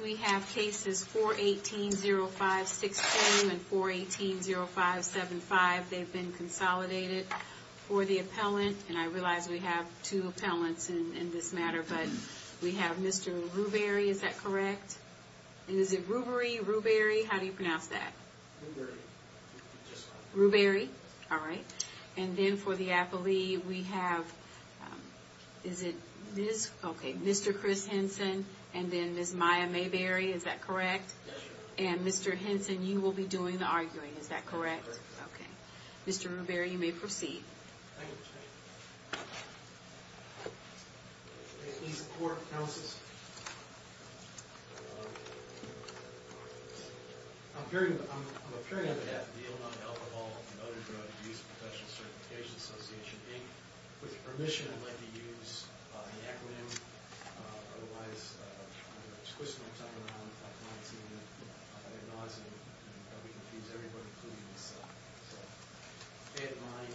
We have cases 418-05-16 and 418-05-75. They've been consolidated. For the appellant, and I realize we have two appellants in this matter, but we have Mr. Rubery, is that correct? Is it Rubery? Rubery? How do you pronounce that? Rubery. Rubery? All right. And then for the appellee, we have, is it Ms.? Okay, Mr. Chris Henson and then Ms. Maya Mayberry, is that correct? Yes, ma'am. And Mr. Henson, you will be doing the arguing, is that correct? Correct. Okay. Mr. Rubery, you may proceed. Thank you, Ms. Mayberry. These court counsels, I'm appearing on behalf of the Illinois Alcohol & Other Drug Abuse Professional Certification Association, Inc. With your permission, I'd like to use the acronym. Otherwise, I'm going to twist my tongue around. If my client sees me, I'm going to be nauseating. That would confuse everybody, including myself. So bear in mind,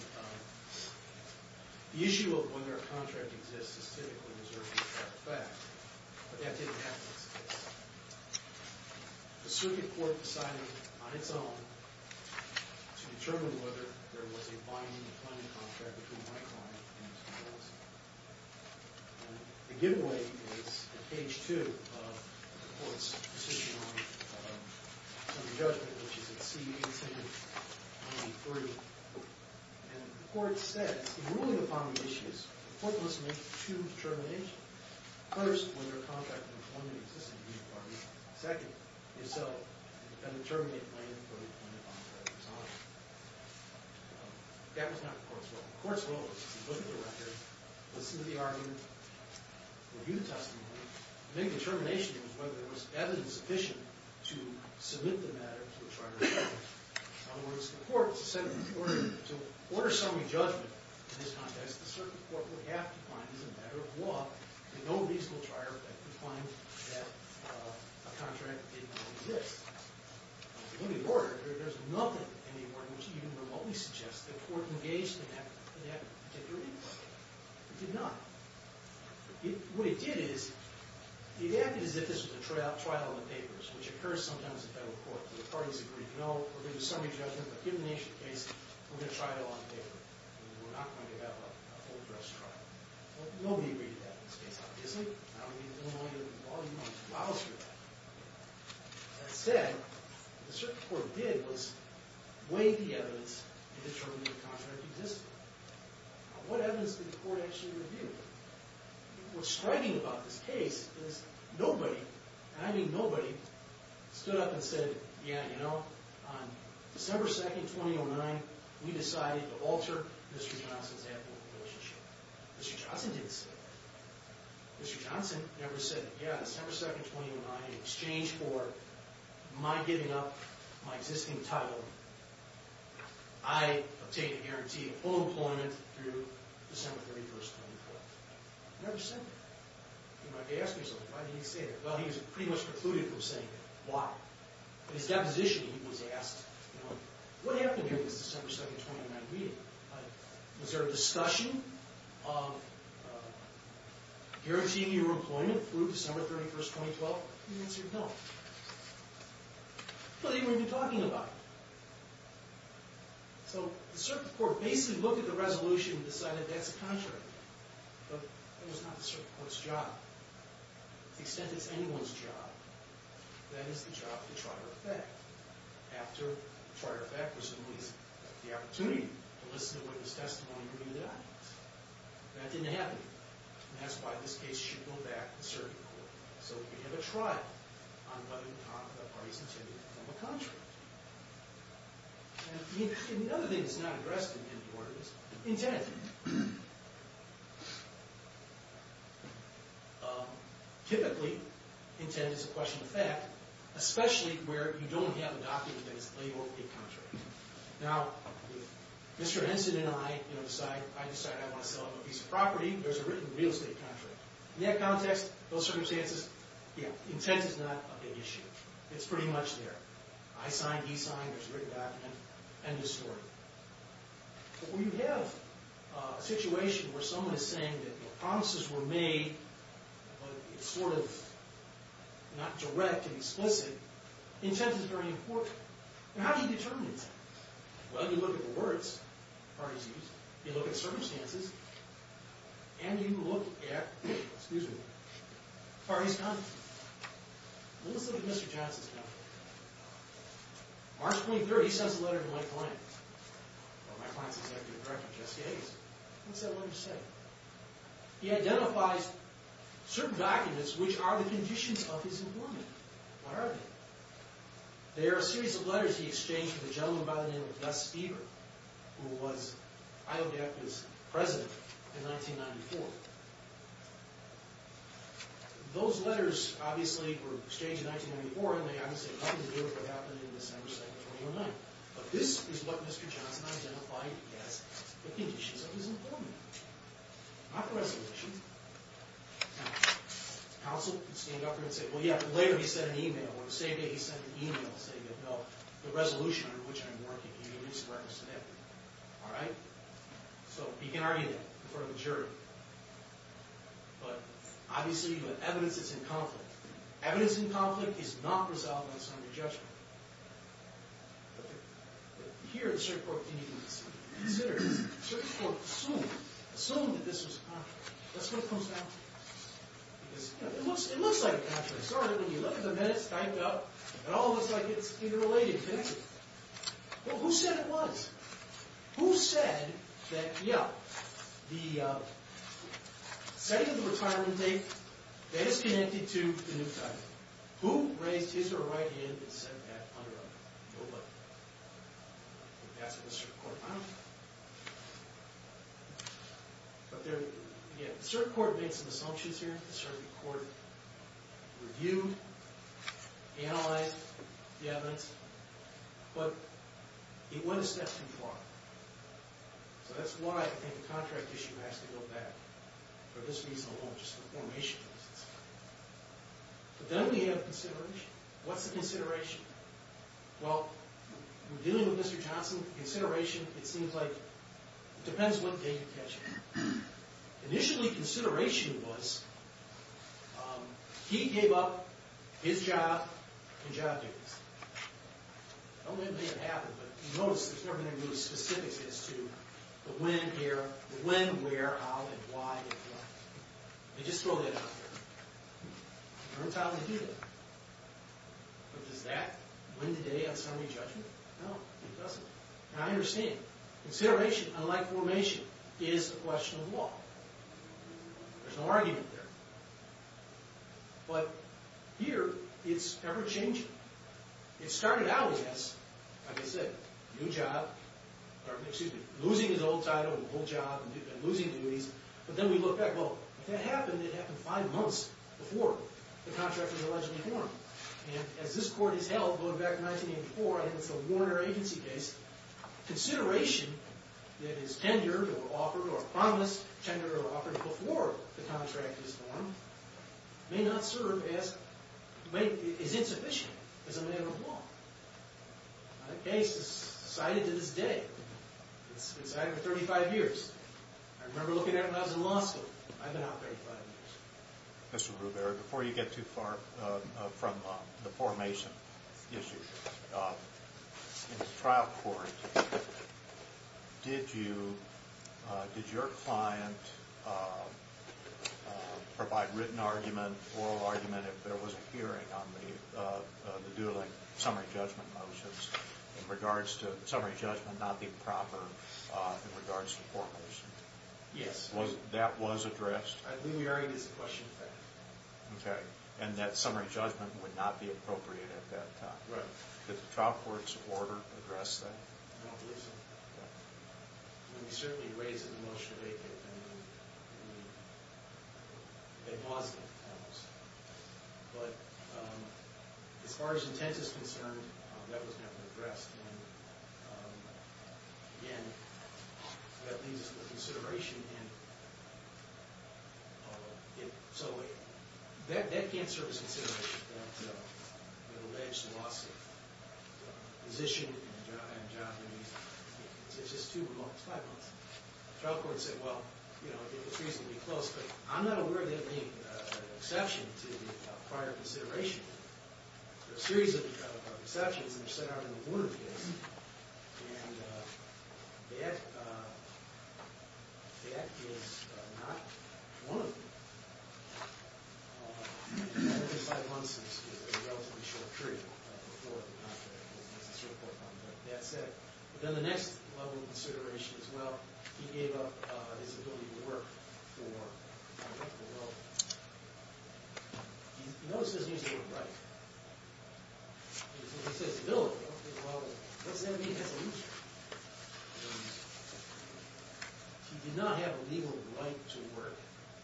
the issue of whether a contract exists is typically reserved for fact. But that didn't happen in this case. The circuit court decided on its own to determine whether there was a binding or planning contract between my client and Ms. Mayberry. The giveaway is at page two of the court's decision on the judgment, which is at C-18-23. And the court says, in ruling upon the issues, the court must make two determinations. First, whether a contract with one of the existing parties. Second, if so, a determinate plan for the plan of contract was honored. That was not the court's role. The court's role was to look at the record, listen to the argument, review the testimony. The main determination was whether there was evidence sufficient to submit the matter to a trier of court. In other words, the court said, in order to order summary judgment in this context, the circuit court would have to find, as a matter of law, no reasonable trier that could find that a contract did not exist. In the order, there's nothing in the order which even remotely suggests that the court engaged in that particular inquiry. It did not. What it did is, it acted as if this was a trial in the papers, which occurs sometimes in federal court. The parties agree, no, we're going to do summary judgment, but given the nature of the case, we're going to try it on paper. We're not going to have a whole dress trial. Well, nobody agreed to that in this case, obviously. I don't mean to get in the way of the law. You don't have to allow us to do that. That said, what the circuit court did was weigh the evidence and determine if the contract existed. Now, what evidence did the court actually review? What's striking about this case is nobody, and I mean nobody, stood up and said, yeah, you know, on December 2nd, 2009, we decided to alter Mr. Johnson's advocate relationship. Mr. Johnson didn't say that. Mr. Johnson never said, yeah, December 2nd, 2009, in exchange for my giving up my existing title, I obtain a guarantee of full employment through December 31st, 2012. He never said that. You might be asking yourself, why did he say that? Well, he was pretty much precluded from saying that. Why? In his deposition, he was asked, you know, what happened during this December 2nd, 2009 meeting? Was there a discussion of guaranteeing your employment through December 31st, 2012? The answer is no. Well, they weren't even talking about it. So the circuit court basically looked at the resolution and decided that's a contract. But that was not the circuit court's job. To the extent it's anyone's job, that is the job of the trier of fact. After the trier of fact was released, the opportunity to listen to witness testimony would be denied. That didn't happen. And that's why this case should go back to the circuit court. So we have a trial on whether the parties intended to form a contract. And the other thing that's not addressed in the order is intent. Typically, intent is a question of fact, especially where you don't have a document that is labeled a contract. Now, if Mr. Henson and I decide I want to sell a piece of property, there's a written real estate contract. In that context, those circumstances, intent is not a big issue. It's pretty much there. I sign, he signs, there's a written document, end of story. But when you have a situation where someone is saying that promises were made, but it's sort of not direct and explicit, intent is very important. Now, how do you determine intent? Well, you look at the words the parties used, you look at the circumstances, and you look at the parties' conduct. Let's look at Mr. Johnson's conduct. March 23rd, he sends a letter to my client. Well, my client's executive director, Jesse Hays. What's that letter say? He identifies certain documents which are the conditions of his employment. What are they? They are a series of letters he exchanged with a gentleman by the name of Gus Eber, who was IODACA's president in 1994. Those letters, obviously, were exchanged in 1994, and they obviously have nothing to do with what happened in December 2nd, 2009. But this is what Mr. Johnson identified as the conditions of his employment. Not the resolution. Now, counsel can stand up here and say, well, yeah, later he sent an email, or the same day he sent an email saying, no, the resolution under which I'm working can't release the records today. All right? So, you can argue that in front of a jury. But, obviously, the evidence is in conflict. Evidence in conflict is not resolved by a summary judgment. Here, the Circuit Court can even consider, the Circuit Court can assume, assume that this was a contract. Let's look closely. It looks like a contract. Sorry, when you look at the minutes typed up, it all looks like it's interrelated, doesn't it? Well, who said it was? Who said that, yeah, the setting of the retirement date, that is connected to the new title. Who raised his or her right hand and said that under a no vote? That's what the Circuit Court found. But there, again, the Circuit Court made some assumptions here. The Circuit Court reviewed, analyzed the evidence. But it went a step too far. So that's why I think the contract issue has to go back. For this reason alone, just the formation of this. But then we have consideration. What's the consideration? Well, in dealing with Mr. Johnson, consideration, it seems like, depends what day you catch him. Initially, consideration was, he gave up his job and job duties. I don't believe it happened, but you notice there's never been any specifics as to the when, where, how, and why. They just throw that out there. It turns out they do that. But does that win the day on summary judgment? No, it doesn't. Now, I understand. Consideration, unlike formation, is a question of law. There's no argument there. But here, it's ever-changing. It started out as, like I said, losing his old title and old job and losing duties. But then we look back, well, if that happened, it happened five months before the contract was allegedly formed. And as this Court has held going back to 1984, I think it's a Warner Agency case, consideration that is tendered or offered or promised, tendered or offered before the contract is formed, may not serve as, is insufficient as a matter of law. That case is cited to this day. It's cited for 35 years. I remember looking at it when I was in law school. I've been out 35 years. Mr. Ruber, before you get too far from the formation issue, in the trial court, did you, did your client provide written argument, oral argument, if there was a hearing on the Dooling summary judgment motions, in regards to summary judgment not being proper in regards to formation? Yes. That was addressed? I believe the argument is a question of fact. Okay. And that summary judgment would not be appropriate at that time. Right. Did the trial court's order address that? I don't believe so. Okay. I mean, we certainly raised it in the motion to make it, and we admonished it, I would say. But as far as intent is concerned, that was never addressed. And, again, that leaves us for consideration. And so that can't serve as consideration, that alleged loss of position and job. I mean, it's just two months, five months. The trial court said, well, you know, it was reasonably close. But I'm not aware of that being an exception to prior consideration. There are a series of exceptions, and they're set out in the board of judges. And that is not one of them. Five months is a relatively short period for the trial court. But that's it. But then the next level of consideration is, well, he gave up his ability to work for the local level. You know this isn't usually a right. When he says ability, well, what does that mean? That's an issue. He did not have a legal right to work.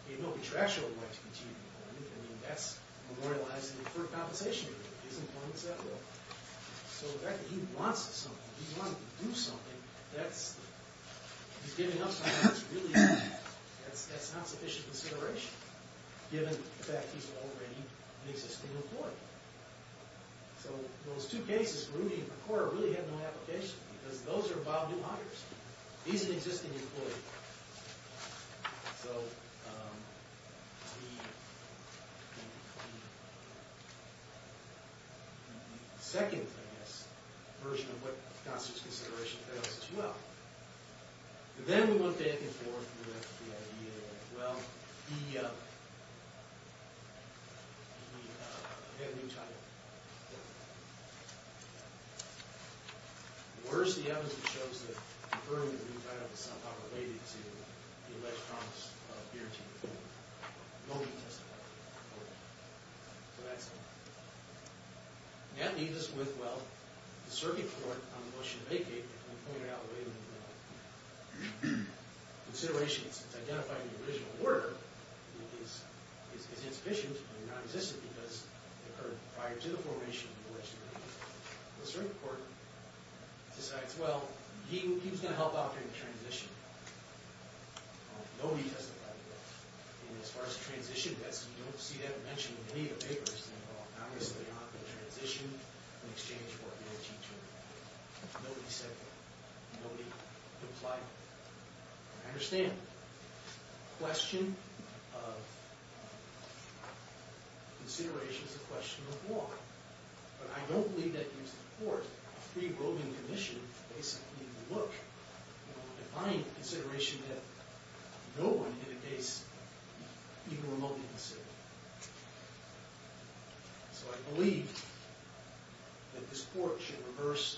He had no contractual right to continue to work. I mean, that's memorializing for compensation. His employment is at will. So the fact that he wants something, he wanted to do something, that's, he's giving up something that's really, that's not sufficient consideration, given the fact that he's already an existing employee. So those two cases, Grooney and McCorder, really had no application, because those are about new hires. He's an existing employee. So the second, I guess, version of what constitutes consideration fails as well. Then we went back and forth with the idea that, well, he had a new title. Where's the evidence that shows that, confirming the new title is somehow related to the alleged promise of guaranteed employment? Nobody testified. So that's it. That leaves us with, well, the circuit court on the motion to vacate, and we pointed out the way that the consideration that's identified in the original order is insufficient and non-existent because it occurred prior to the formation of the legislature. The circuit court decides, well, he was going to help out during the transition. Nobody testified. And as far as the transition goes, you don't see that mentioned in any of the papers. Well, obviously not in the transition in exchange for a guarantee term. Nobody said that. Nobody implied that. I understand. The question of consideration is a question of law. But I don't believe that you support a free voting commission, when you basically look and find consideration that no one in a case even remotely considered. So I believe that this court should reverse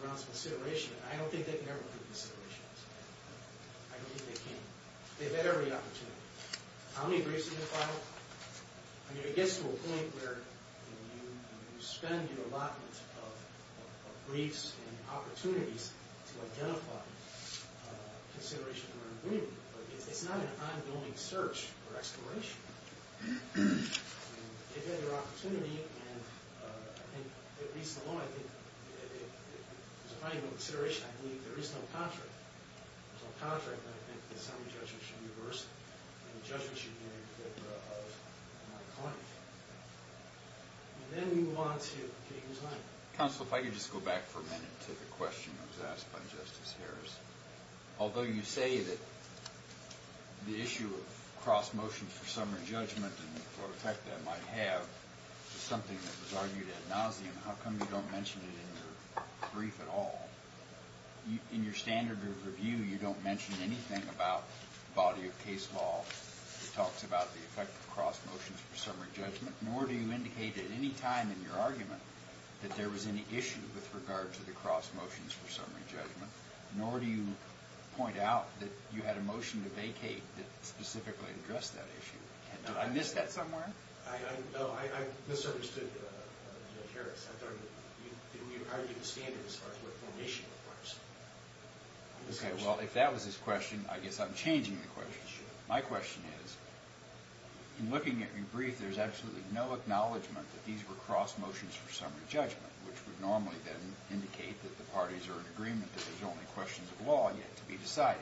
Brown's consideration, and I don't think they can ever do consideration. I don't think they can. They've had every opportunity. How many briefs did they file? I mean, it gets to a point where you spend your allotment of briefs and opportunities to identify consideration for an agreement, but it's not an ongoing search or exploration. I mean, they've had their opportunity, and I think the reason alone, I think, there's probably no consideration. I believe there is no contract. There's no contract, but I think the assembly judgment should reverse it, and the judgment should be in favor of my claim. And then we move on to Kate and John. Counsel, if I could just go back for a minute to the question that was asked by Justice Harris. Although you say that the issue of cross-motion for summary judgment and what effect that might have is something that was argued ad nauseum, how come you don't mention it in your brief at all? In your standard review, you don't mention anything about the body of case law that talks about the effect of cross-motions for summary judgment, nor do you indicate at any time in your argument that there was any issue with regard to the cross-motions for summary judgment, nor do you point out that you had a motion to vacate that specifically addressed that issue. Did I miss that somewhere? No, I misunderstood, Justice Harris. In your argument standard as far as what formation requires. Okay, well, if that was his question, I guess I'm changing the question. My question is, in looking at your brief, there's absolutely no acknowledgement that these were cross-motions for summary judgment, which would normally then indicate that the parties are in agreement that there's only questions of law yet to be decided.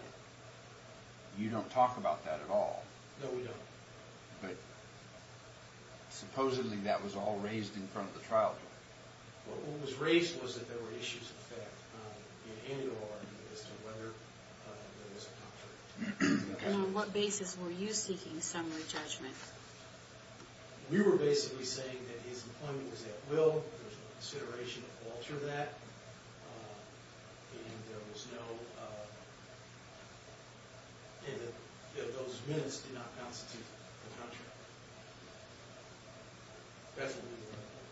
You don't talk about that at all. No, we don't. But supposedly that was all raised in front of the trial court. What was raised was that there were issues of fact in any of our argument as to whether there was a conflict. And on what basis were you seeking summary judgment? We were basically saying that his employment was at will, there was no consideration to alter that, and that those minutes did not constitute a contract. That's what we were arguing.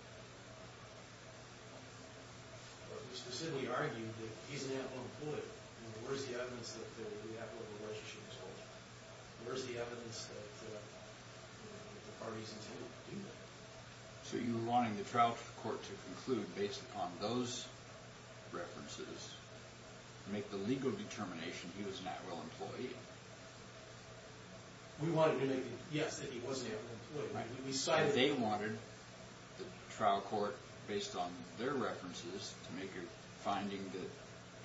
We specifically argued that he's an at-will employee. Where's the evidence that the at-will relationship is holding? Where's the evidence that the parties intended to do that? So you were wanting the trial court to conclude based upon those references to make the legal determination he was an at-will employee. We wanted to make the guess that he was an at-will employee. They wanted the trial court, based on their references, to make a finding that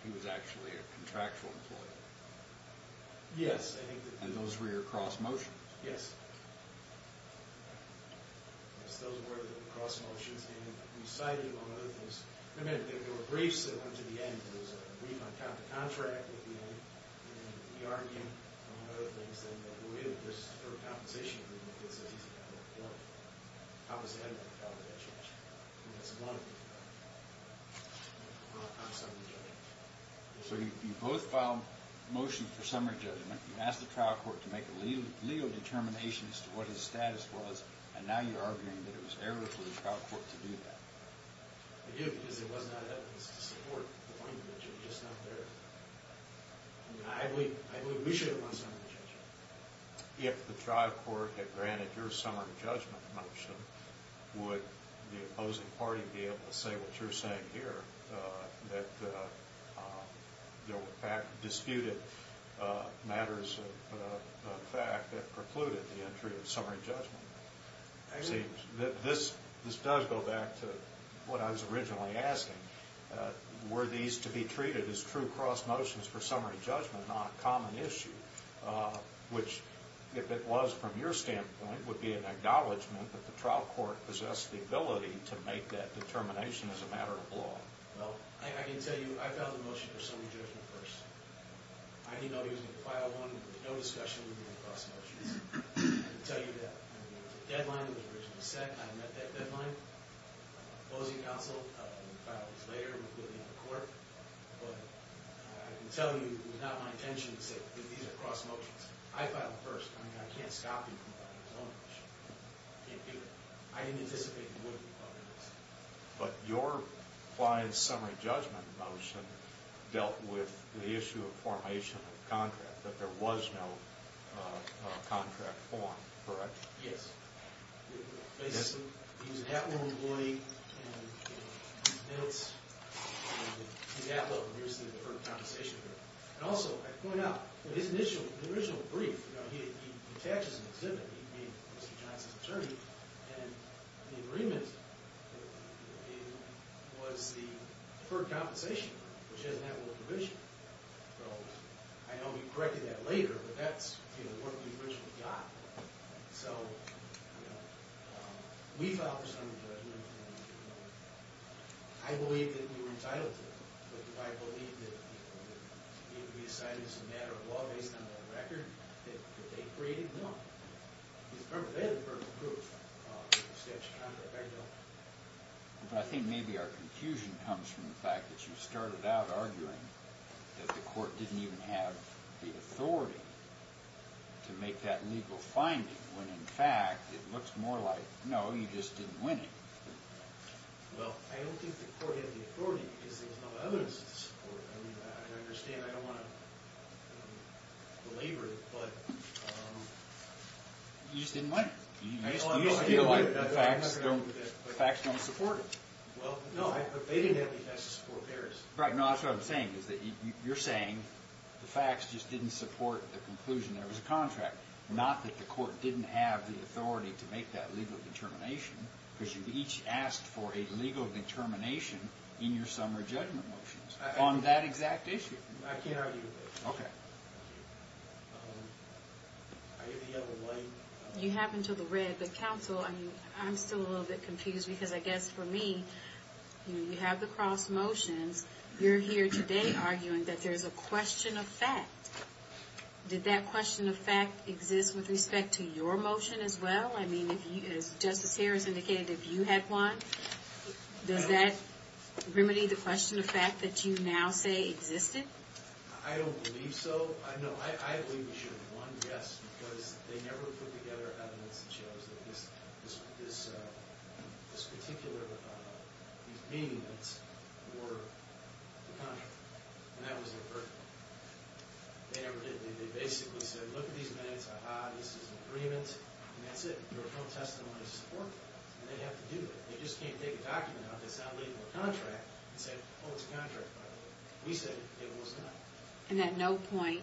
he was actually a contractual employee. Yes. And those were your cross-motions. Yes. Those were the cross-motions. And we cited you on other things. I mean, there were briefs that went to the end. There was a brief on counter-contract at the end. And we argued on other things. And the way that this is for a compensation agreement, it says he's an at-will employee. How does that change? I mean, that's one of them. So you both filed motions for summary judgment. You asked the trial court to make a legal determination as to what his status was. And now you're arguing that it was error for the trial court to do that. I do, because it was not evidence to support the point that you're just not there. I mean, I believe we should have won summary judgment. If the trial court had granted your summary judgment motion, would the opposing party be able to say what you're saying here, that you, in fact, disputed matters of fact that precluded the entry of summary judgment? This does go back to what I was originally asking. Were these to be treated as true cross-motions for summary judgment, not a common issue? Which, if it was from your standpoint, would be an acknowledgment that the trial court possessed the ability to make that determination as a matter of law? Well, I can tell you I filed a motion for summary judgment first. I didn't know he was going to file one. There was no discussion. We were doing cross-motions. I can tell you that. There was a deadline. It was originally set. I met that deadline. The opposing counsel filed this later, including the court. But I can tell you it was not my intention to say these are cross-motions. I filed it first. I mean, I can't stop you from filing your own motion. I can't do that. I didn't anticipate it would be part of this. But your client's summary judgment motion dealt with the issue of formation of contract, that there was no contract form, correct? Yes. Basically, he was an Atwell employee. And it's, you know, he's Atwell. Obviously, there was a conversation there. And also, I point out, in his original brief, you know, he attaches an exhibit. He's a Johnson's attorney. And the agreement was the deferred compensation, which has an Atwell provision. So I know he corrected that later, but that's, you know, what we originally got. So, you know, we filed the summary judgment. And, you know, I believe that we were entitled to it. But if I believe that we decided it was a matter of law based on the record that they created, then I don't know. Because remember, they had a verbal proof of the statute of conduct. But I think maybe our confusion comes from the fact that you started out arguing that the court didn't even have the authority to make that legal finding, when, in fact, it looks more like, no, you just didn't win it. Well, I don't think the court had the authority because there was no evidence to support it. I understand. I don't want to belabor it, but you just didn't win it. You just didn't win it. The facts don't support it. Well, no, they didn't have the facts to support theirs. Right. No, that's what I'm saying, is that you're saying the facts just didn't support the conclusion. There was a contract. Not that the court didn't have the authority to make that legal determination, because you each asked for a legal determination in your summary judgment motions. On that exact issue. I can't argue with it. Okay. You have until the red, but counsel, I'm still a little bit confused, because I guess for me, you have the cross motions. You're here today arguing that there's a question of fact. Did that question of fact exist with respect to your motion as well? I mean, as Justice Harris indicated, if you had one, does that remedy the question of fact that you now say existed? I don't believe so. No, I believe you should have one, yes, because they never put together evidence that shows that this particular, these meeting minutes were the contract. And that was their verdict. They never did. They basically said, look at these minutes, aha, this is agreement, and that's it. There was no testimony to support that. And they have to do it. They just can't take a document out that's not a legal contract and say, oh, it's a contract, by the way. We said it was not. And at no point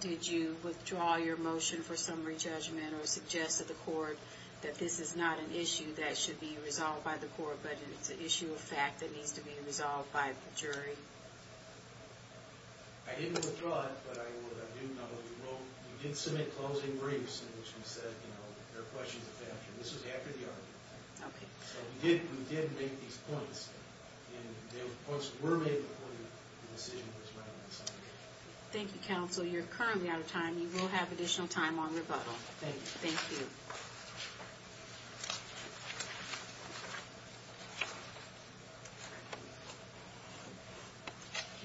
did you withdraw your motion for summary judgment or suggest to the court that this is not an issue that should be resolved by the court, but it's an issue of fact that needs to be resolved by the jury? I didn't withdraw it, but I do know that you did submit closing briefs in which you said, you know, there are questions of fact. And this was after the argument. Okay. So we did make these points, and those points were made before the decision was made. Thank you, counsel. You're currently out of time. You will have additional time on rebuttal. Thank you. Thank you.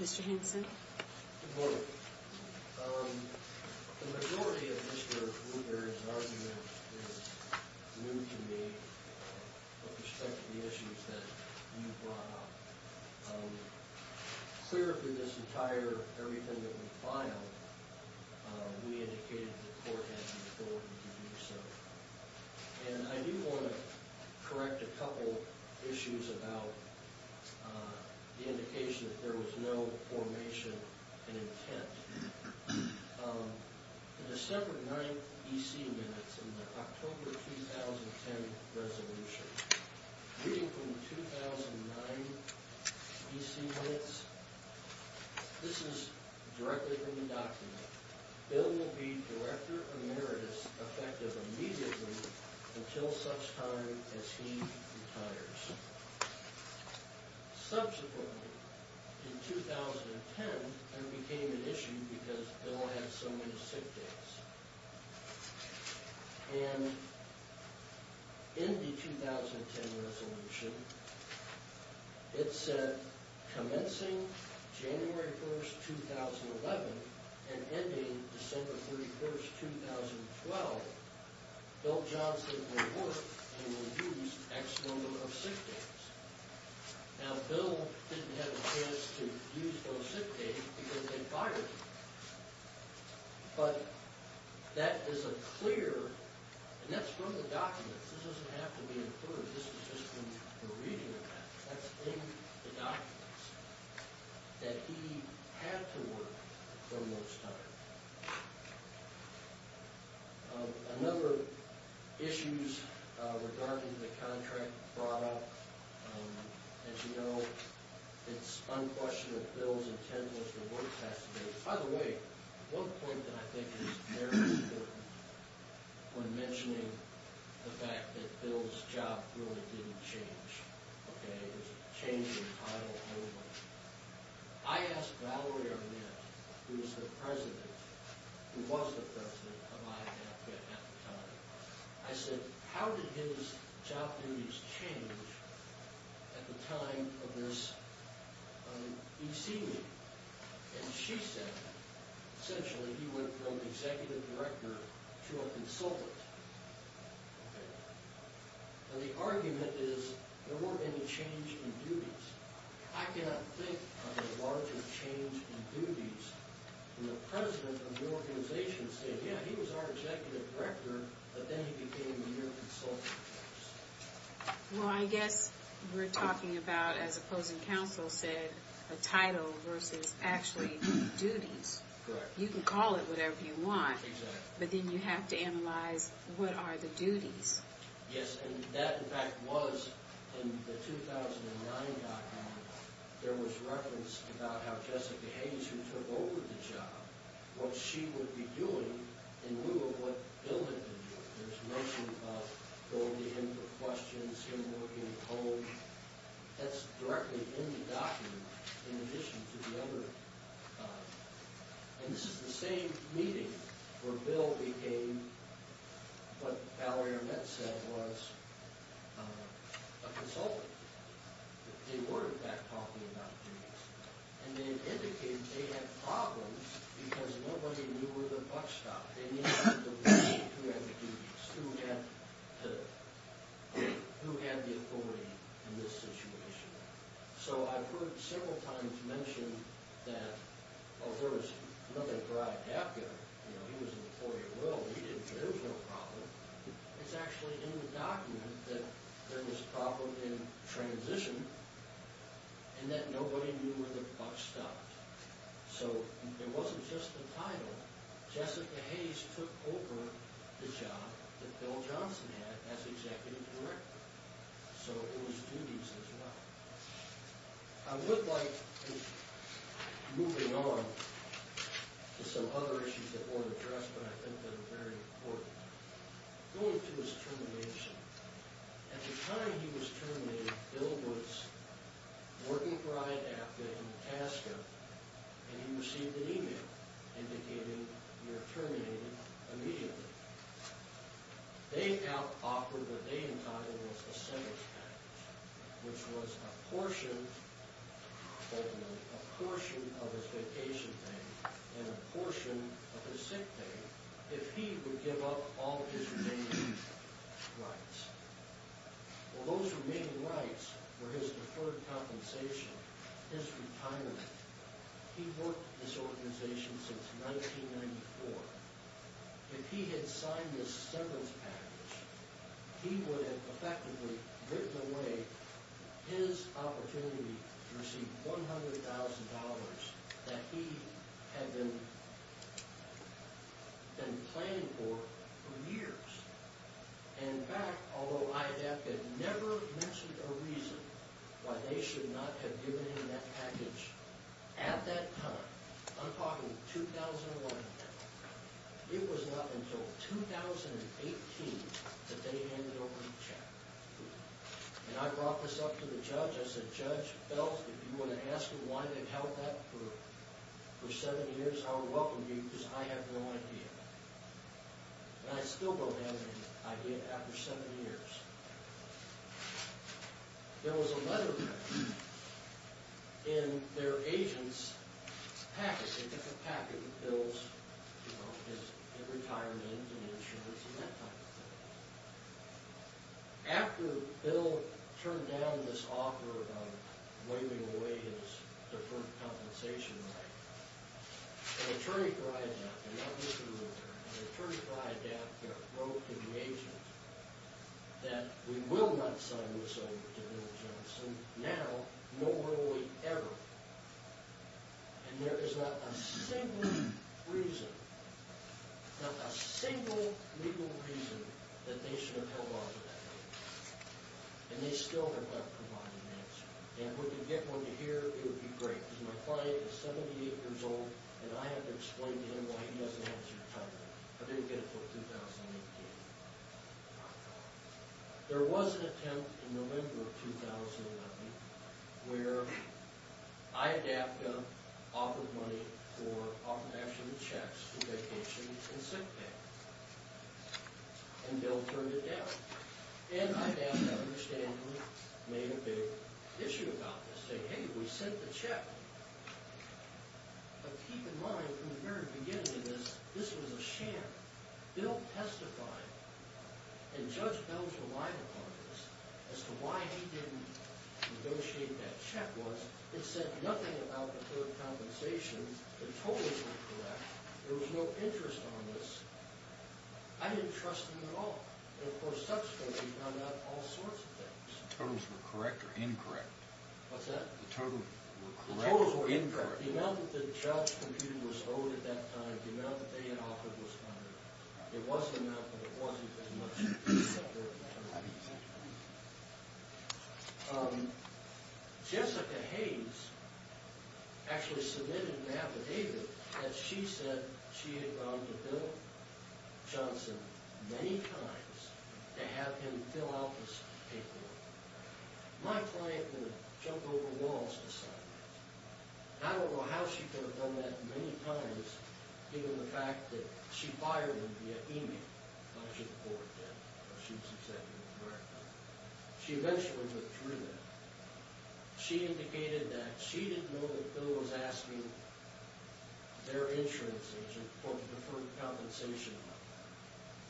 Mr. Henson. Good morning. The majority of Mr. Gruber's argument is new to me with respect to the issues that you brought up. Clearly, this entire everything that we filed, we indicated to the court that you were going to do so. And I do want to correct a couple issues about the indication that there was no formation and intent. The December 9th EC minutes in the October 2010 resolution, reading from the 2009 EC minutes, this is directly from the document. Bill will be Director Emeritus effective immediately until such time as he retires. Subsequently, in 2010, there became an issue because Bill had so many sick days. And in the 2010 resolution, it said commencing January 1st, 2011, and ending December 31st, 2012, Bill Johnson will work and will use X number of sick days. Now, Bill didn't have a chance to use those sick days because they fired him. But that is a clear, and that's from the documents. This doesn't have to be inferred. This is just from the reading of that. That's in the documents that he had to work for most time. A number of issues regarding the contract brought up. As you know, it's unquestionable that Bill's intent was to work X number of days. By the way, one point that I think is very important when mentioning the fact that Bill's job really didn't change. It was a change in title only. I asked Valerie Arnett, who was the president of IAF at the time, I said, how did his job duties change at the time of this EC meeting? And she said, essentially, he went from executive director to a consultant. And the argument is there weren't any change in duties. I cannot think of a larger change in duties when the president of the organization said, yeah, he was our executive director, but then he became your consultant. Well, I guess we're talking about, as opposing counsel said, a title versus actually duties. Correct. You can call it whatever you want, but then you have to analyze what are the duties. Yes, and that, in fact, was in the 2009 document, there was reference about how Jessica Hayes, who took over the job, what she would be doing in lieu of what Bill had been doing. There's a notion of going to him for questions, him looking to hold. That's directly in the document, in addition to the other. And this is the same meeting where Bill became what Valerie Arnett said was a consultant. They were, in fact, talking about duties. And they indicated they had problems because nobody knew where the buck stopped. They needed to know who had the duties, who had the authority in this situation. So I've heard several times mentioned that, oh, there was nothing dragged out there. You know, he was an employee at Will. There was no problem. It's actually in the document that there was a problem in transition and that nobody knew where the buck stopped. So it wasn't just the title. Jessica Hayes took over the job that Bill Johnson had as executive director. So it was duties as well. I would like, moving on to some other issues that weren't addressed, but I think that are very important, going to his termination. At the time he was terminated, Bill was working for IAPTA in Pasco, and he received an e-mail indicating you're terminated immediately. They now offered what they entitled was a sentence package, which was a portion of his vacation pay and a portion of his sick pay if he would give up all of his remaining rights. Well, those remaining rights were his deferred compensation, his retirement. He worked for this organization since 1994. If he had signed this sentence package, he would have effectively written away his opportunity to receive $100,000 that he had been planning for for years. And in fact, although IAPTA never mentioned a reason why they should not have given him that package at that time, I'm talking 2001, it was not until 2018 that they handed over the check. And I brought this up to the judge. I said, Judge Felt, if you want to ask him why they held that for seven years, I will welcome you because I have no idea. And I still don't have any idea after seven years. There was a letter in their agent's package, a different package, his retirement and insurance and that type of thing. After Bill turned down this offer of waiving away his deferred compensation right, an attorney for IAPTA wrote to the agent that we will not sign this over to Bill Johnson. Now, nor will we ever. And there is not a single reason, not a single legal reason that they should have held on to that package. And they still have not provided an answer. And if we could get one to hear, it would be great. Because my client is 78 years old and I have to explain to him why he doesn't have his retirement. I didn't get it until 2018. There was an attempt in November of 2019 where IAPTA offered money for, offered actually checks for vacation and sick pay. And Bill turned it down. And IAPTA understandably made a big issue about this. They said, hey, we sent the check. But keep in mind from the very beginning, this was a sham. Bill testified. And Judge Belz relied upon this as to why he didn't negotiate that check once. It said nothing about deferred compensation. The totals were correct. There was no interest on this. I didn't trust him at all. And of course subsequently he found out all sorts of things. The totals were correct or incorrect? What's that? The totals were correct or incorrect? The amount that the child's computer was owed at that time, the amount that they had offered was correct. It was the amount, but it wasn't as much. Jessica Hayes actually submitted an affidavit that she said she had gone to Bill Johnson many times to have him fill out this paperwork. My client would jump over walls to sign it. I don't know how she could have done that many times given the fact that she fired him via email. She eventually went through that. She indicated that she didn't know that Bill was asking their insurance agent for deferred compensation.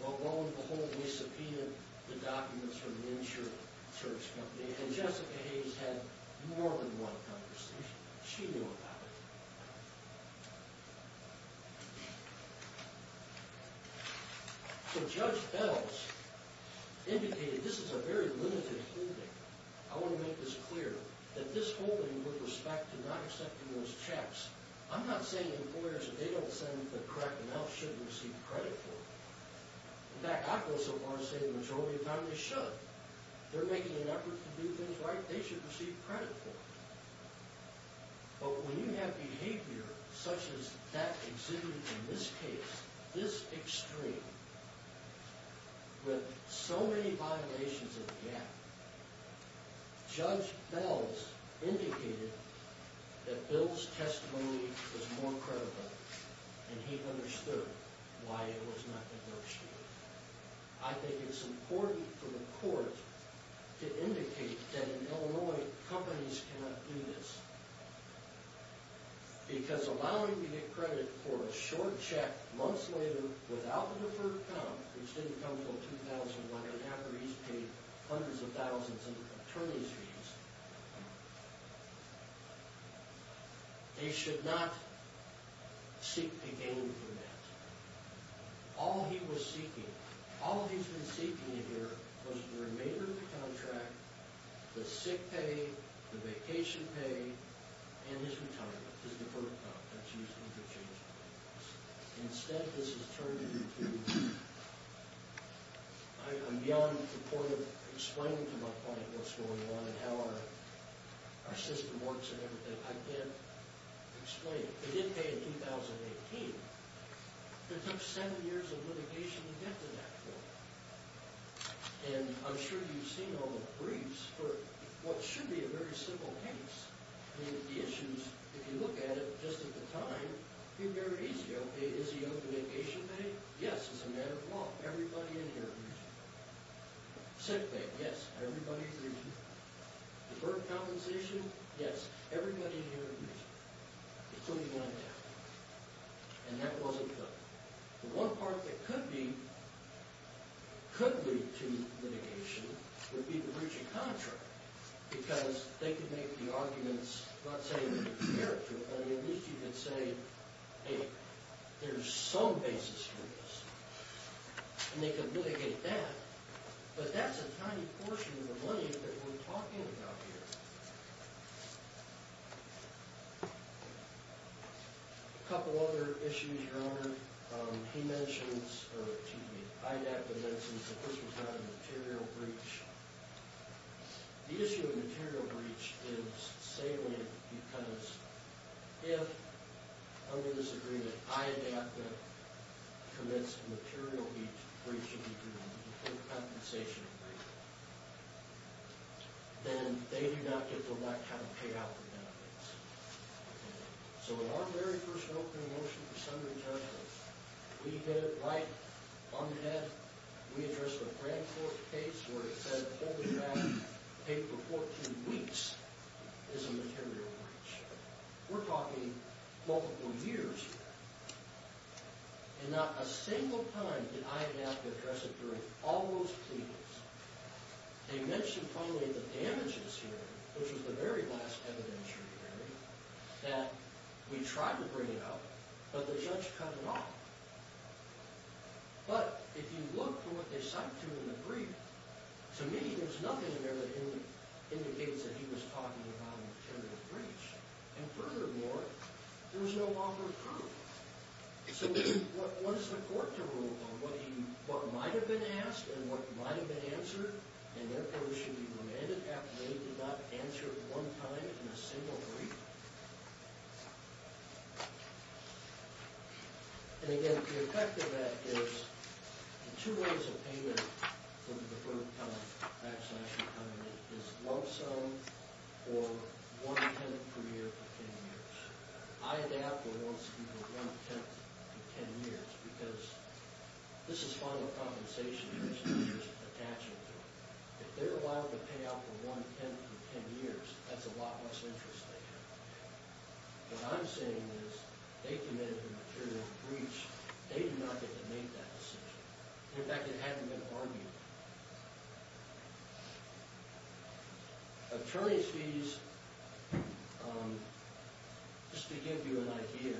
Well, lo and behold, they subpoenaed the documents from the insurance company. And Jessica Hayes had more than one conversation. She knew about it. So Judge Bells indicated this is a very limited holding. I want to make this clear, that this holding with respect to not accepting those checks, I'm not saying employers, if they don't send the correct amount, shouldn't receive credit for it. In fact, I've gone so far as to say the majority of families should. If they're making an effort to do things right, they should receive credit for it. But when you have behavior such as that exhibited in this case, this extreme, with so many violations of GAAP, Judge Bells indicated that Bill's testimony was more credible. And he understood why it was not the first hearing. I think it's important for the court to indicate that in Illinois, companies cannot do this. Because allowing you to get credit for a short check months later without the deferred comp, which didn't come until 2001, after he's paid hundreds of thousands in attorney's fees, they should not seek to gain from that. All he was seeking, all he's been seeking here, was the remainder of the contract, the sick pay, the vacation pay, and his retirement, his deferred comp. Instead, this has turned into, I'm beyond supportive of explaining to my client what's going on and how our system works and everything. I can't explain. They did pay in 2018. It took seven years of litigation to get to that point. And I'm sure you've seen all the briefs for what should be a very simple case. The issues, if you look at it, just at the time, seem very easy. Okay, is he owed the vacation pay? Yes, as a matter of law. Everybody in here agrees. Sick pay? Yes, everybody agrees. Deferred compensation? Yes, everybody in here agrees. Including my dad. And that wasn't good. The one part that could be, could lead to litigation, would be the breach of contract. Because they could make the arguments, let's say, to compare it to, at least you could say, hey, there's some basis for this. And they could litigate that. But that's a tiny portion of the money that we're talking about here. A couple other issues, Your Honor. He mentions, or excuse me, IDAPA mentions that this was not a material breach. The issue of material breach is salient because if, under this agreement, IDAPA commits a material breach of agreement, a deferred compensation agreement, then they do not get to elect how to pay out the benefits. So in our very first opening motion for summary judgment, we did it right on the net. We addressed the grand court case where it said, hold the draft, pay for 14 weeks, is a material breach. We're talking multiple years here. And not a single time did I have to address it during all those pleadings. They mentioned probably the damages here, which was the very last evidentiary hearing, that we tried to bring it up, but the judge cut it off. But if you look at what they cited to in the brief, to me there's nothing in there that indicates that he was talking about a material breach. And furthermore, there was no longer proof. So what is the court to rule on? What might have been asked and what might have been answered, and therefore should be remanded after they did not answer at one time in a single brief? And again, the effect of that is two ways of payment for the deferred compensation agreement is one sum or one tenant per year for 10 years. I had to ask for one sum or one tenant for 10 years because this is final compensation and there's no additional attachment to it. If they're allowed to pay out for one tenant for 10 years, that's a lot less interest they have. What I'm saying is they committed a material breach. They do not get to make that decision. In fact, it hadn't been argued. Attorney's fees, just to give you an idea,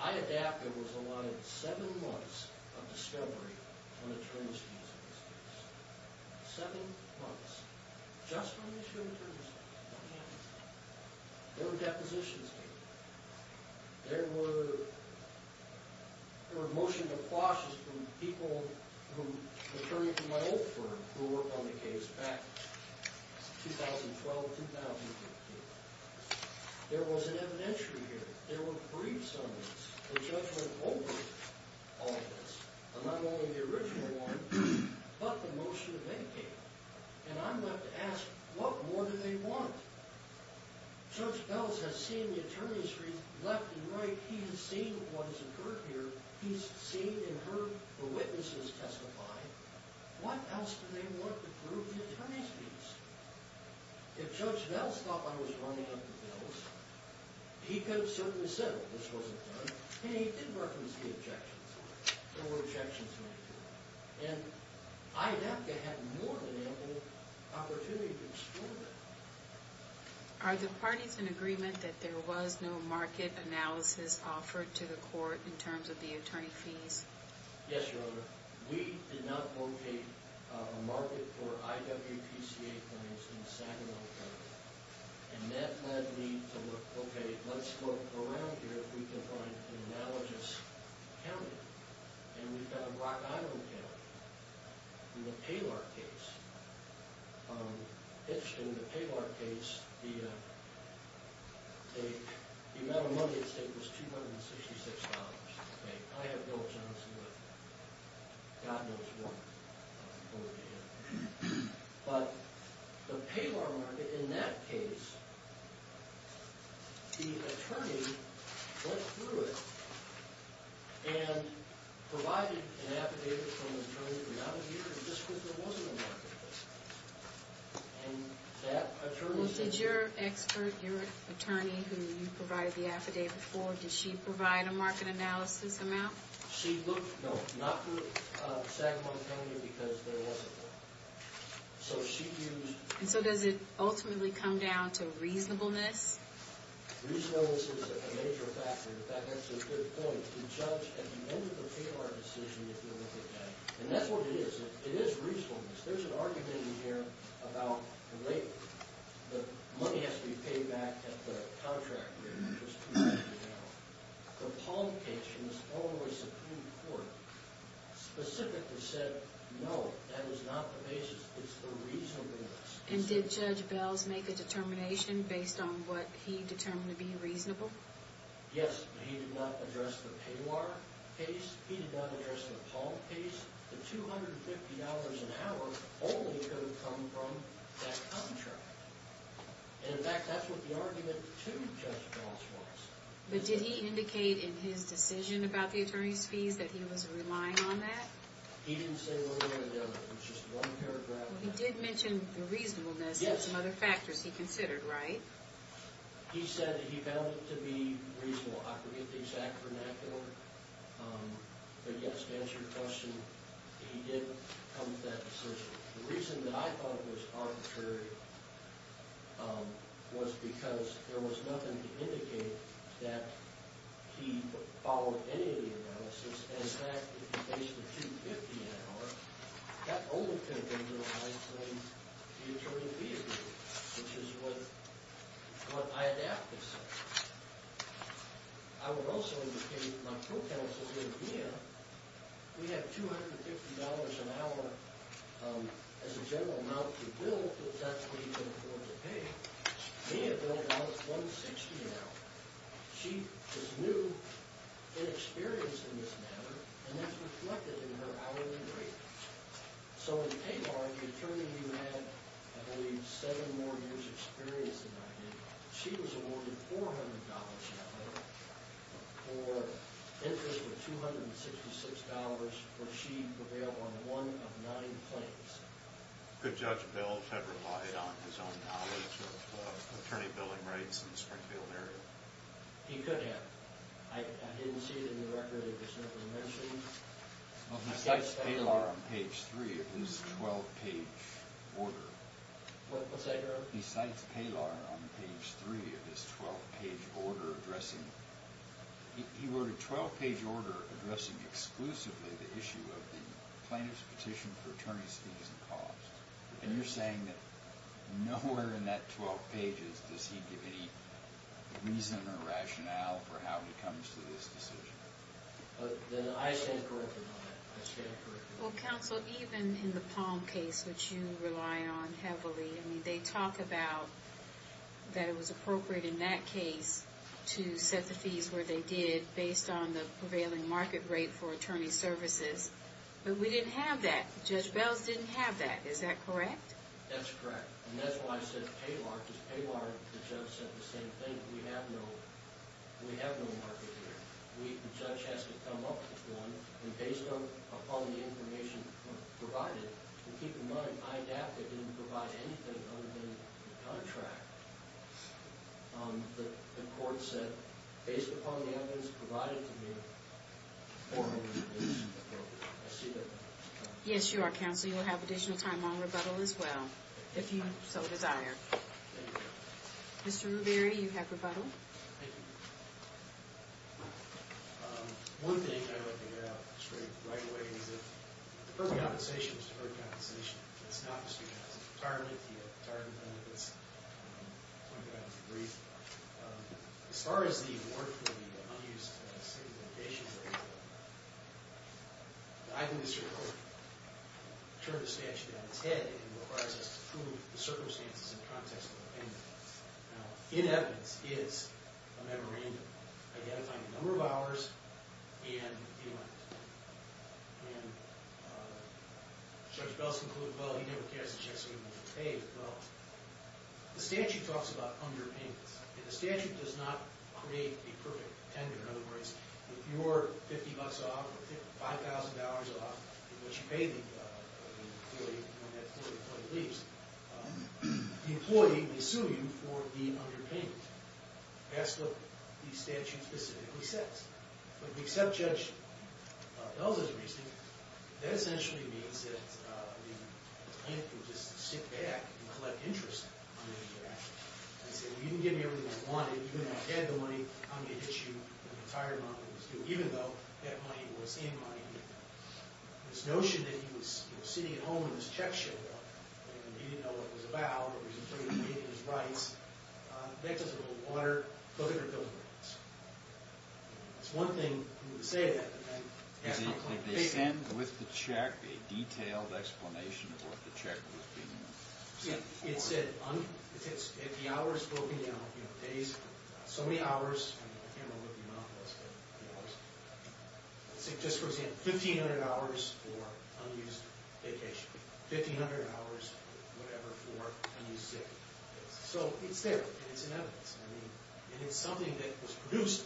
I adapted what was allotted seven months of discovery on attorney's fees in this case. Seven months. Just on the issue of attorney's fees. What happened? No depositions came. There were motion to quash this from people, from attorneys in my old firm who worked on the case back in 2012, 2015. There was an evidentiary here. There were brief summaries. The judge went over all of this, and not only the original one, but the motion that they gave. And I'm left to ask, what more do they want? Judge Belz has seen the attorney's fees left and right. He's seen what has occurred here. He's seen and heard the witnesses testify. What else do they want to prove the attorney's fees? If Judge Belz thought I was running up the bills, he could have certainly said, oh, this wasn't done. And he did reference the objections. There were objections made to it. And I'd have to have more than ample opportunity to explore that. Are the parties in agreement that there was no market analysis offered to the court in terms of the attorney fees? Yes, Your Honor. We did not locate a market for IWPCA claims in Saginaw County. And that led me to look, okay, let's look around here. We can find an analogous county. And we've got a Rock Island county in the Paylar case. Interestingly, in the Paylar case, the amount of money it was taking was $266. I have no objection to it. God knows what. But the Paylar market, in that case, the attorney went through it. And provided an affidavit from the attorney for not a year just because there wasn't a market. And that attorney said- Well, did your expert, your attorney who you provided the affidavit for, did she provide a market analysis amount? No, not for Saginaw County because there wasn't one. So she used- And so does it ultimately come down to reasonableness? Reasonableness is a major factor. In fact, that's a good point. The judge at the end of the Paylar decision, if you look at that, and that's what it is. It is reasonableness. There's an argument in here about the way the money has to be paid back at the contract rate, which was $200,000. The publication of the Illinois Supreme Court specifically said, no, that was not the basis. It's the reasonableness. And did Judge Bells make a determination based on what he determined to be reasonable? Yes, but he did not address the Paylar case. He did not address the Paul case. The $250 an hour only could have come from that contract. And, in fact, that's what the argument to Judge Bells was. But did he indicate in his decision about the attorney's fees that he was relying on that? He didn't say where he would have done it. It's just one paragraph. He did mention the reasonableness and some other factors he considered, right? He said that he found it to be reasonable. I forget the exact vernacular. But, yes, to answer your question, he did come to that decision. The reason that I thought it was arbitrary was because there was nothing to indicate that he followed any of the analysis. And, in fact, if you face the $250 an hour, that only could have been realized by the attorney fees, which is what I adapted. I would also indicate my pro counsel here, Mia, we have $250 an hour as a general amount to bill. But that's what he's going to afford to pay. Mia Bell wants $160 an hour. She is new and experienced in this matter, and that's reflected in her hourly rate. So in Pay Bar, the attorney you had, I believe, seven more years' experience than I did, she was awarded $400 an hour for interest of $266 where she prevailed on one of nine claims. Could Judge Belch have relied on his own knowledge of attorney billing rates in the Springfield area? He could have. I didn't see it in the record. It was simply mentioned. Well, he cites Paylar on page 3 of his 12-page order. What's that, Jerome? He cites Paylar on page 3 of his 12-page order addressing... And you're saying that nowhere in that 12 pages does he give any reason or rationale for how he comes to this decision. Well, counsel, even in the Palm case, which you rely on heavily, they talk about that it was appropriate in that case to set the fees where they did based on the prevailing market rate for attorney services. But we didn't have that. Judge Belch didn't have that. Is that correct? That's correct. And that's why I said Paylar, because Paylar and the judge said the same thing. We have no market here. The judge has to come up with one. And based upon the information provided, and keep in mind, I adapted and didn't provide anything other than the contract. The court said, based upon the evidence provided to me, $400 is appropriate. I see that. Yes, you are, counsel. You will have additional time on rebuttal as well, if you so desire. Thank you. Mr. Ruberi, you have rebuttal. Thank you. One thing I'd like to get out straight right away is that the first compensation is deferred compensation. It's not just because of retirement. You have retirement benefits. I'll point that out in a brief. As far as the award for the unused state of the location, I think Mr. Ruberi turned the statute on its head and requires us to prove the circumstances in the context of the payment. Now, in evidence is a memorandum identifying the number of hours and the amount. And Judge Belch concluded, well, he never cast a check, so he won't be paid. The statute talks about underpayments, and the statute does not create a perfect tender. In other words, if you're $50 off or $5,000 off, which you may be when that employee leaves, the employee will sue you for the underpayment. That's what the statute specifically says. But if we accept Judge Belch's reasoning, that essentially means that the plaintiff can just sit back and collect interest on his behalf and say, well, you didn't give me everything I wanted. Even though I had the money, I'm going to hit you with the entire amount I was due, even though that money was in my name. This notion that he was sitting at home and his check showed up and he didn't know what it was about or he wasn't sure he was getting his rights, that doesn't hold water, book it, or bill it. That's one thing he would say to that defendant. Did they send with the check a detailed explanation of what the check was being used for? Yeah, it said if the hours broken down, days, so many hours, I can't remember what the amount was. Let's say, just for example, 1,500 hours for unused vacation. 1,500 hours, whatever, for unused sick leave. So it's there, and it's in evidence. And it's something that was produced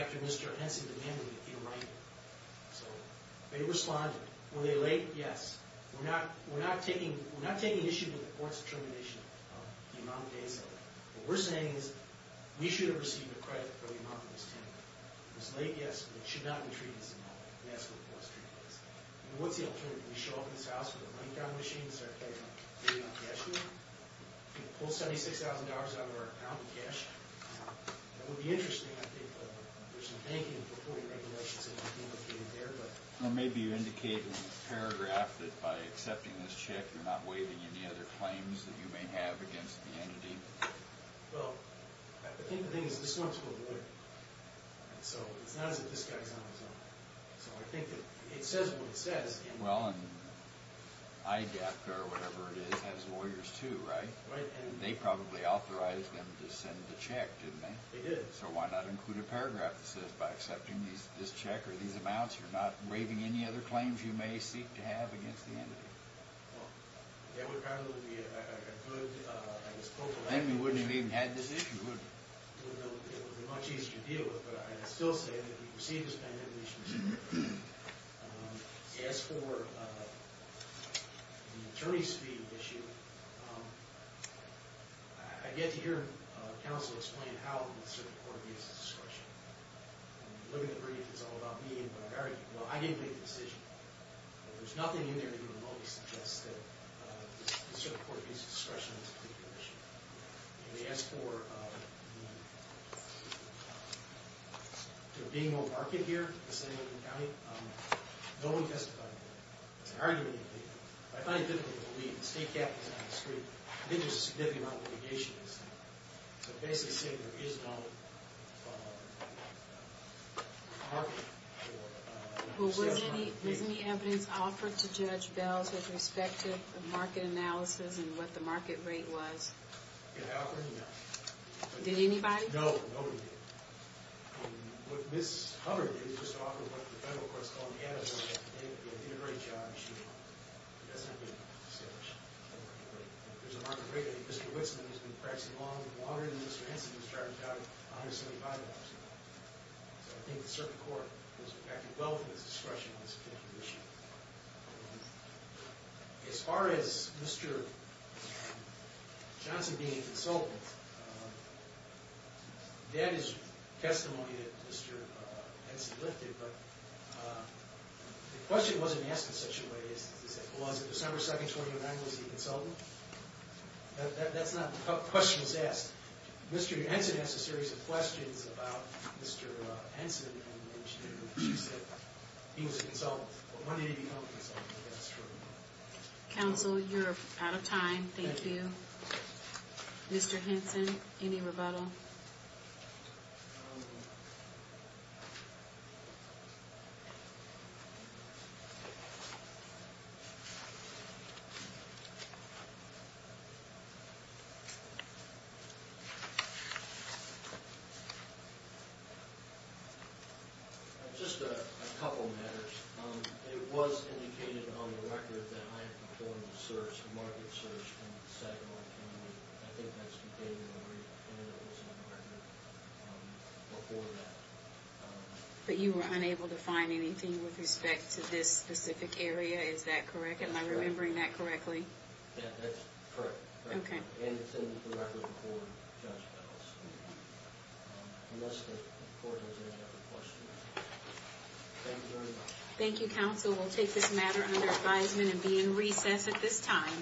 after Mr. Henson demanded that he write it. So they responded. Were they late? Yes. We're not taking issue with the court's determination of the amount of days. What we're saying is we should have received a credit for the amount that was taken. If it was late, yes, but it should not have been treated as an amount. That's what the court's treatment is. What's the alternative? We show up in this house with a money-counting machine, and start paying on cash. We can pull $76,000 out of our account in cash. That would be interesting, I think. There's some banking and reporting regulations that might be located there. Or maybe you indicate in the paragraph that by accepting this check, you're not waiving any other claims that you may have against the entity. Well, I think the thing is, this one's for the winner. So it's not as if this guy's on his own. So I think that it says what it says. Well, IDAPT or whatever it is has lawyers too, right? They probably authorized them to send the check, didn't they? They did. So why not include a paragraph that says, by accepting this check or these amounts, you're not waiving any other claims you may seek to have against the entity? Well, that would probably be a good philosophical argument. Then we wouldn't have even had this issue, would we? It would be much easier to deal with. But I'd still say that if you receive this kind of information, as for the attorney's fee issue, I get to hear counsel explain how the Circuit Court gives discretion. When you look at the brief, it's all about me and what I've argued. Well, I gave the decision. There's nothing in there to remotely suggest that the Circuit Court gives discretion on this particular issue. They asked for there being no market here in San Diego County. No one testified on that. It's an argument. I find it difficult to believe. The state cap is on the street. I think there's a significant amount of litigation. So basically saying there is no market. Well, was any evidence offered to Judge Bells with respect to the market analysis and what the market rate was? Did I offer any? No. Did anybody? No. Nobody did. What Ms. Hubbard did is just offer what the federal courts call an inadequate integrated job issue. That's not being established. There's a market rate that Mr. Witzman has been practicing longer than Mr. Henson has tried to tally, $175. So I think the Circuit Court has acted well with discretion on this particular issue. As far as Mr. Johnson being a consultant, that is testimony that Mr. Henson lifted, but the question wasn't asked in such a way as it was. On December 2, 2009, was he a consultant? That's not the question that's asked. Mr. Henson asked a series of questions about Mr. Henson and she said he was a consultant. Counsel, you're out of time. Thank you. Mr. Henson, any rebuttal? Just a couple matters. It was indicated on the record that I performed a search, a market search, in Sagamore County. I think that's because there was a market before that. But you were unable to find anything with respect to this specific area. Is that correct? Am I remembering that correctly? That's correct. And it's in the record before Judge Bell's. Unless the court has any other questions. Thank you very much. Thank you, counsel. We'll take this matter under advisement and be in recess at this time.